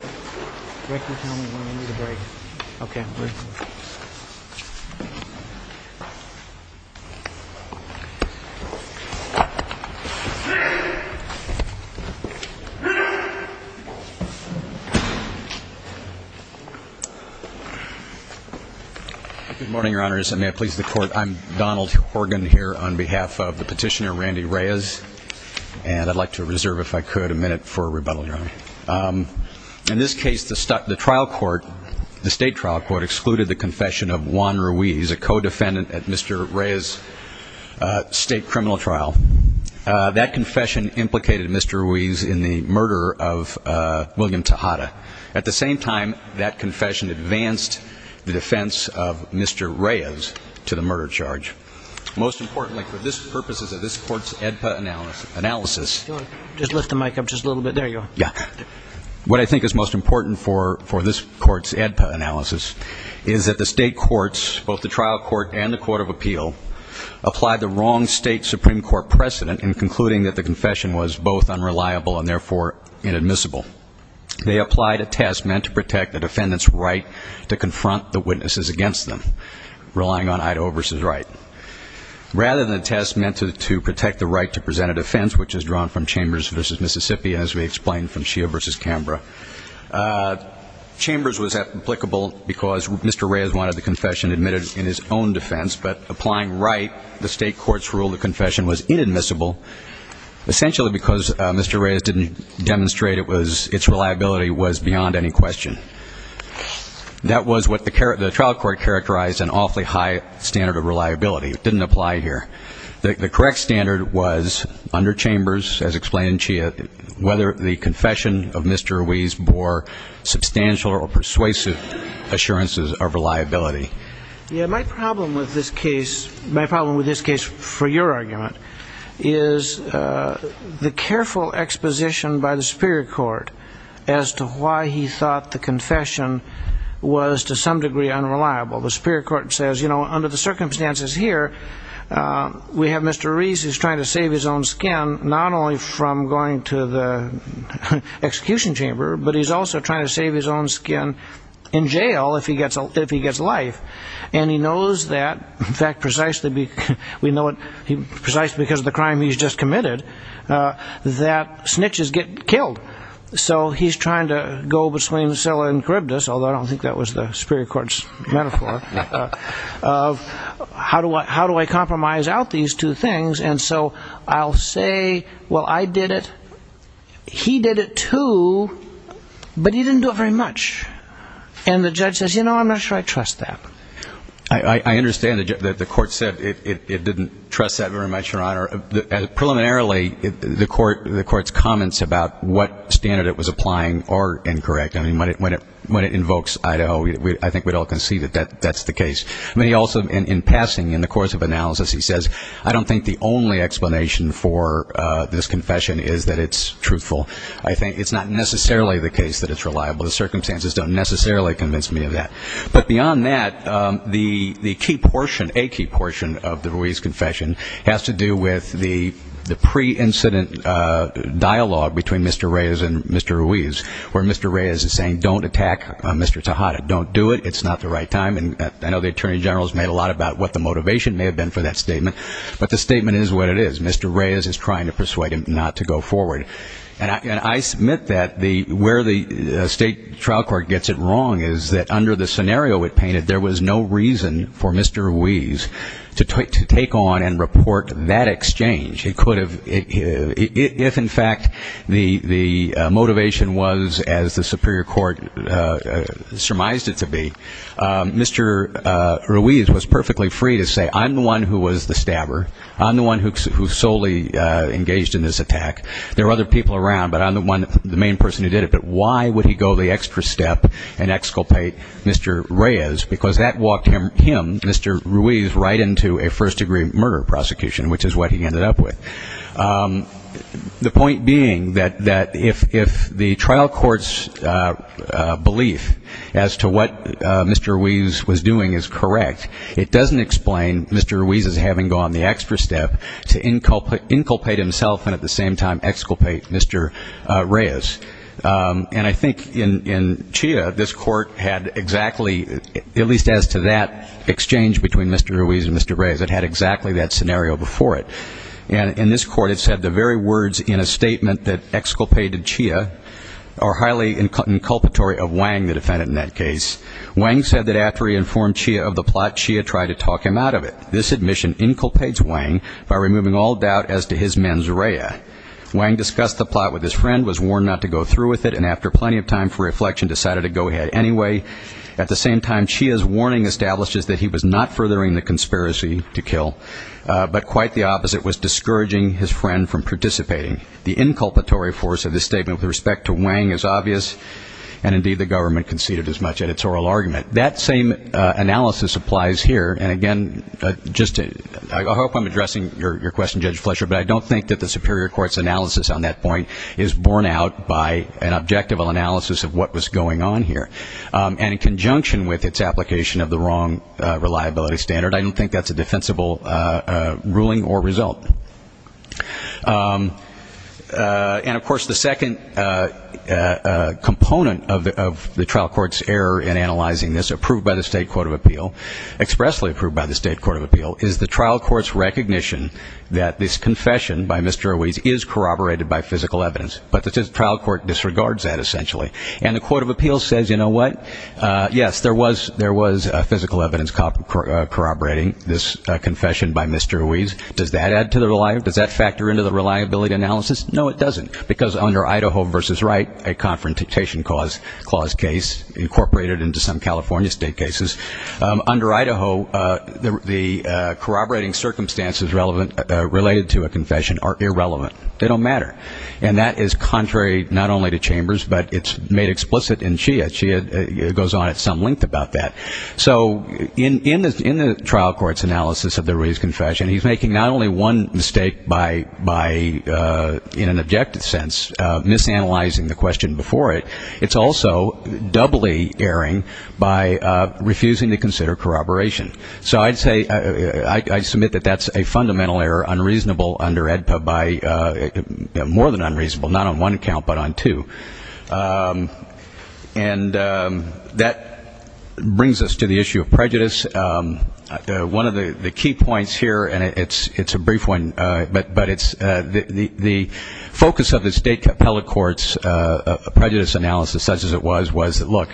Good morning, Your Honors, and may it please the Court, I'm Donald Horgan here on behalf of the petitioner, Randy Reyes, and I'd like to reserve, if I could, a minute for a rebuttal, Your Honor. In this case, the trial court, the state trial court, excluded the confession of Juan Ruiz, a co-defendant at Mr. Reyes' state criminal trial. That confession implicated Mr. Ruiz in the murder of William Tejada. At the same time, that confession advanced the defense of Mr. Reyes to the murder charge. Most importantly, for the purposes of this Court's AEDPA analysis, what I think is most important for this Court's AEDPA analysis is that the state courts, both the trial court and the Court of Appeal, applied the wrong state Supreme Court precedent in concluding that the confession was both unreliable and therefore inadmissible. They applied a test meant to protect the defendant's right to confront the witnesses against them, relying on Idaho v. Wright. Rather than a test meant to protect the right to present a defense, which is drawn from Chambers v. Mississippi, as we explained from Shea v. Canberra, Chambers was applicable because Mr. Reyes wanted the confession admitted in his own defense, but applying Wright, the state court's rule, the confession was inadmissible, essentially because Mr. Reyes didn't demonstrate its reliability was inadmissible. That was what the trial court characterized an awfully high standard of reliability. It didn't apply here. The correct standard was under Chambers, as explained in Shea, whether the confession of Mr. Reyes bore substantial or persuasive assurances of reliability. Yeah, my problem with this case, my problem with this case for your argument, is the careful exposition by the Superior Court as to why he thought the confession was to some degree unreliable. The Superior Court says, you know, under the circumstances here, we have Mr. Reyes who's trying to save his own skin, not only from going to the execution chamber, but he's also trying to save his own skin in jail if he gets if he gets life. And he knows that, in fact, precisely because of the crime he's just committed, that snitches get killed. So he's trying to go between Scylla and Charybdis, although I don't think that was the Superior Court's metaphor, of how do I compromise out these two things? And so I'll say, well, I did it, he did it too, but he didn't do it very much. And the judge says, you know, I'm not sure I trust that. I understand that the court said it didn't trust that very much, Your Honor. Preliminarily, the court's comments about what standard it was applying are incorrect. I mean, when it invokes Idaho, I think we'd all concede that that's the case. I mean, he also, in passing, in the course of analysis, he says, I don't think the only explanation for this confession is that it's truthful. I think it's not necessarily the case that it's reliable. The circumstances don't necessarily convince me of that. But beyond that, the key portion, a key portion, of the Ruiz confession has to do with the pre-incident dialogue between Mr. Reyes and Mr. Ruiz, where Mr. Reyes is saying, don't attack Mr. Tejada. Don't do it. It's not the right time. And I know the Attorney General has made a lot about what the motivation may have been for that statement. But the statement is what it is. Mr. Reyes is trying to persuade him not to go forward. And I submit that where the state trial court gets it wrong is that under the scenario it was Mr. Ruiz to take on and report that exchange. It could have, if, in fact, the motivation was, as the superior court surmised it to be, Mr. Ruiz was perfectly free to say, I'm the one who was the stabber. I'm the one who solely engaged in this attack. There were other people around, but I'm the one, the main person who did it. But why would he go the extra step and exculpate Mr. Reyes? Because that walked him, Mr. Ruiz, right into a first-degree murder prosecution, which is what he ended up with. The point being that if the trial court's belief as to what Mr. Ruiz was doing is correct, it doesn't explain Mr. Ruiz's having gone the extra step to inculpate himself and at the same time as to that exchange between Mr. Ruiz and Mr. Reyes. It had exactly that scenario before it. And in this court it said the very words in a statement that exculpated Chia are highly inculpatory of Wang, the defendant in that case. Wang said that after he informed Chia of the plot, Chia tried to talk him out of it. This admission inculpates Wang by removing all doubt as to his mens rea. Wang discussed the plot with his friend, was warned not to go through with it, and after plenty of time for reflection decided to not go through with it. The warning establishes that he was not furthering the conspiracy to kill, but quite the opposite, was discouraging his friend from participating. The inculpatory force of this statement with respect to Wang is obvious, and indeed the government conceded as much at its oral argument. That same analysis applies here, and again, I hope I'm addressing your question, Judge Fletcher, but I don't think that the superior court's analysis on that point is borne out by an objective analysis of what was going on here. And in fact, I don't think that's a defense of the wrong reliability standard. I don't think that's a defensible ruling or result. And of course, the second component of the trial court's error in analyzing this, approved by the State Court of Appeal, expressly approved by the State Court of Appeal, is the trial court's recognition that this confession by Mr. Ruiz is corroborated by physical evidence, but the trial court disregards that essentially. And the Court of Appeal says, you know what, yes, there was physical evidence corroborating this confession by Mr. Ruiz. Does that add to the reliability? Does that factor into the reliability analysis? No, it doesn't, because under Idaho v. Wright, a conference dictation clause case incorporated into some California state cases, under Idaho, the corroborating circumstances related to a confession are irrelevant. They don't matter. And that is contrary not only to Chambers, but it's made explicit in Shia. Shia goes on at some length about that. So in the trial court's analysis of the Ruiz confession, he's making not only one mistake by, in an objective sense, misanalyzing the question before it, it's also doubly erring by refusing to consider corroboration. So I'd say, I submit that that's a fundamental error and unreasonable under AEDPA by, more than unreasonable, not on one account, but on two. And that brings us to the issue of prejudice. One of the key points here, and it's a brief one, but it's the focus of the state appellate court's prejudice analysis, such as it was, was, look,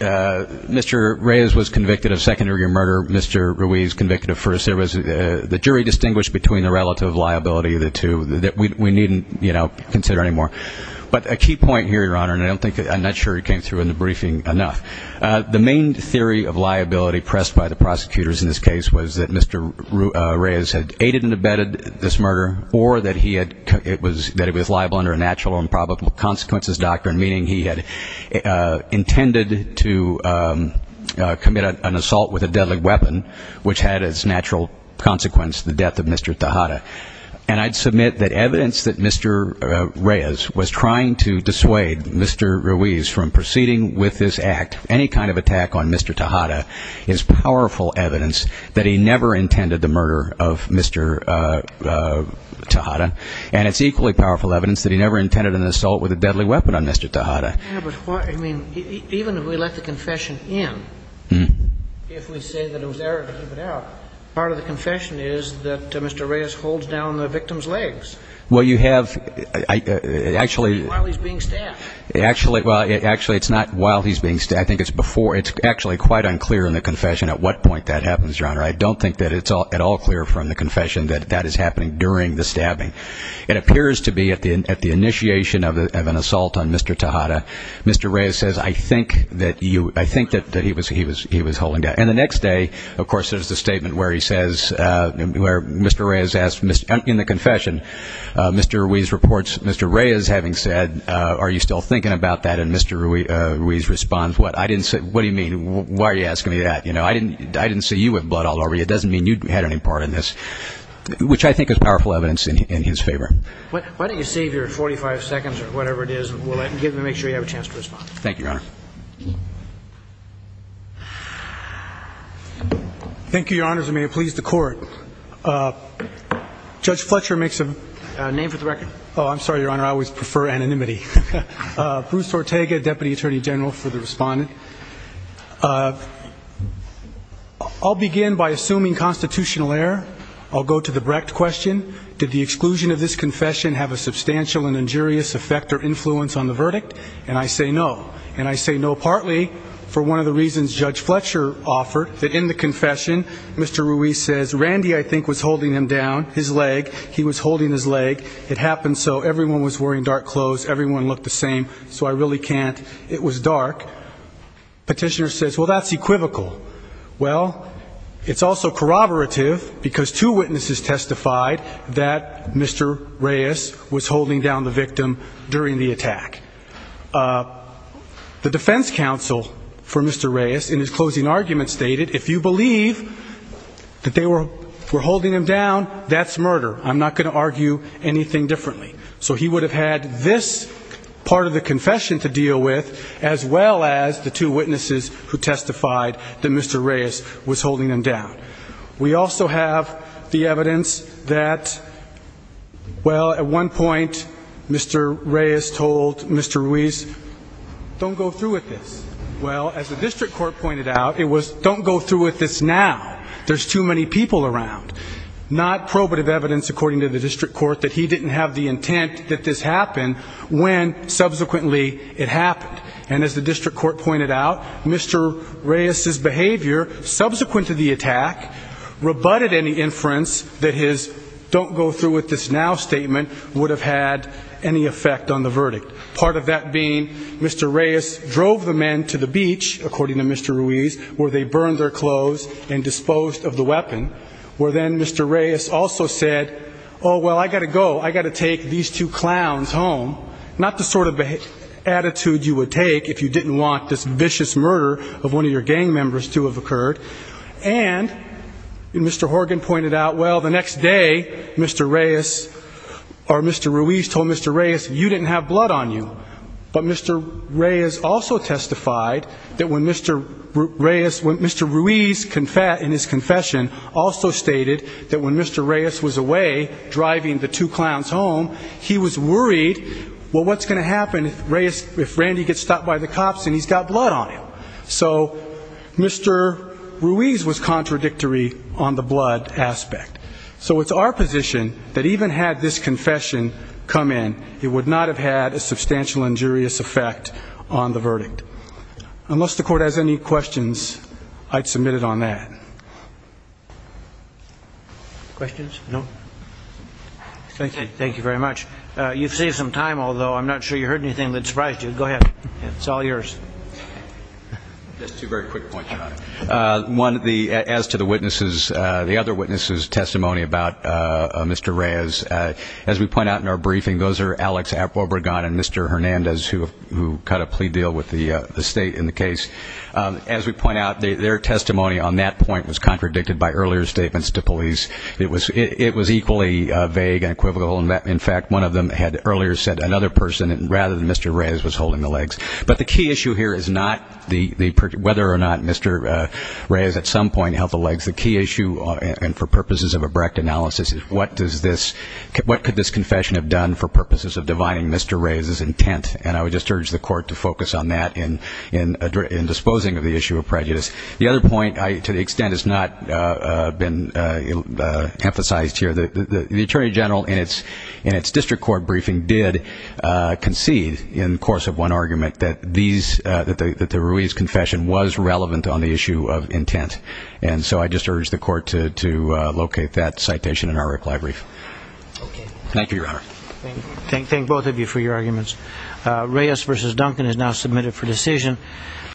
Mr. Ruiz was convicted of second-degree murder, Mr. Ruiz convicted of first-degree murder. It was the jury distinguished between the relative liability of the two that we needn't, you know, consider anymore. But a key point here, Your Honor, and I don't think, I'm not sure it came through in the briefing enough. The main theory of liability pressed by the prosecutors in this case was that Mr. Ruiz had aided and abetted this murder, or that he had, it was, that it was liable under a natural or improbable consequences doctrine, meaning he had intended to commit an assault with a deadly weapon on Mr. Tejada. And I'd submit that evidence that Mr. Reyes was trying to dissuade Mr. Ruiz from proceeding with this act, any kind of attack on Mr. Tejada, is powerful evidence that he never intended the murder of Mr. Tejada. And it's equally powerful evidence that he never intended an assault with a deadly weapon on Mr. Tejada. Yeah, but why, I mean, even if we let the confession in, if we say that it was error to keep it out, part of the confession is that Mr. Reyes holds down the victim's legs. Well, you have, actually. While he's being stabbed. Actually, well, actually, it's not while he's being, I think it's before, it's actually quite unclear in the confession at what point that happens, Your Honor. I don't think that it's at all clear from the confession that that is happening during the confession. Mr. Reyes says, I think that you, I think that he was holding down. And the next day, of course, there's the statement where he says, where Mr. Reyes asks, in the confession, Mr. Ruiz reports, Mr. Reyes having said, are you still thinking about that? And Mr. Ruiz responds, what? I didn't say, what do you mean? Why are you asking me that? I didn't see you with blood all over you. It doesn't mean you had any part in this. Which I think is powerful evidence in his favor. Why don't you save your 45 seconds or whatever it is, and we'll let, give, make sure you have a chance to respond. Thank you, Your Honor. Thank you, Your Honors. And may it please the Court. Judge Fletcher makes a name for the record. Oh, I'm sorry, Your Honor. I always prefer anonymity. Bruce Ortega, Deputy Attorney General for the Respondent. I'll begin by assuming constitutional error. I'll go to the Brecht question. Did the exclusion of this confession have a substantial and injurious effect or influence on the verdict? And I say no. And I say no partly for one of the reasons Judge Fletcher offered, that in the confession, Mr. Ruiz says, Randy, I think, was holding him down, his leg. He was holding his leg. It happened so. Everyone was wearing dark clothes. Everyone looked the same. So I really can't. It was dark. Petitioner says, well, that's equivocal. Well, it's also corroborative, because two witnesses testified that Mr. Ruiz was holding down the victim during the attack. The defense counsel for Mr. Ruiz in his closing argument stated, if you believe that they were holding him down, that's murder. I'm not going to argue anything differently. So he would have had this part of the confession to deal with, as well as the two witnesses who testified that Mr. Ruiz was holding him down. We also have the evidence that, well, at one point, Mr. Ruiz told Mr. Ruiz, don't go through with this. Well, as the district court pointed out, it was, don't go through with this now. There's too many people around. Not probative evidence, according to the district court, that he didn't have the intent that this happen when subsequently it happened. And as the district court pointed out, Mr. Reyes's behavior subsequent to the attack rebutted any inference that his don't go through with this now statement would have had any effect on the verdict. Part of that being, Mr. Reyes drove the men to the beach, according to Mr. Ruiz, where they burned their clothes and disposed of the weapon, where then Mr. Reyes also said, oh, well, I got to go. I got to take these two clowns home. Not the sort of attitude you would take if you didn't want this vicious murder of one of your gang members to have occurred. And Mr. Horgan pointed out, well, the next day, Mr. Reyes or Mr. Ruiz told Mr. Reyes, you didn't have blood on you. But Mr. Reyes also testified that when Mr. Reyes, when Mr. Ruiz, in his confession, also stated that when Mr. Reyes was away driving the two clowns home, he was worried, well, what's going to happen if Randy gets stopped by the cops and he's got blood on him? So Mr. Ruiz was contradictory on the blood aspect. So it's our position that even had this confession come in, it would not have had a substantial injurious effect on the verdict. Unless the court has any questions, I'd submit it on that. Questions? No? Thank you. Thank you very much. You've saved some time, although I'm not sure you heard anything that surprised you. Go ahead. It's all yours. Just two very quick points. One, as to the witnesses, the other witnesses' testimony about Mr. Reyes, as we point out in our briefing, those are Alex Obregon and Mr. Hernandez, who cut a plea deal with the state in the case. As we point out, their testimony on that point was very contradictory. The testimony on that point was contradicted by earlier statements to police. It was equally vague and equivocal. In fact, one of them had earlier said another person, rather than Mr. Reyes, was holding the legs. But the key issue here is not whether or not Mr. Reyes at some point held the legs. The key issue, and for purposes of a Brecht analysis, is what could this confession have done for purposes of dividing Mr. Reyes' intent? And I would just urge the court to focus on that in disposing of the issue of prejudice. The other point, to the extent it's not been emphasized here, the Attorney General, in its district court briefing, did concede, in the course of one argument, that the Ruiz confession was relevant on the issue of intent. And so I just urge the court to locate that citation in our reply brief. Thank you, Your Honor. Thank both of you for your arguments. Reyes v. Duncan is now submitted for decision.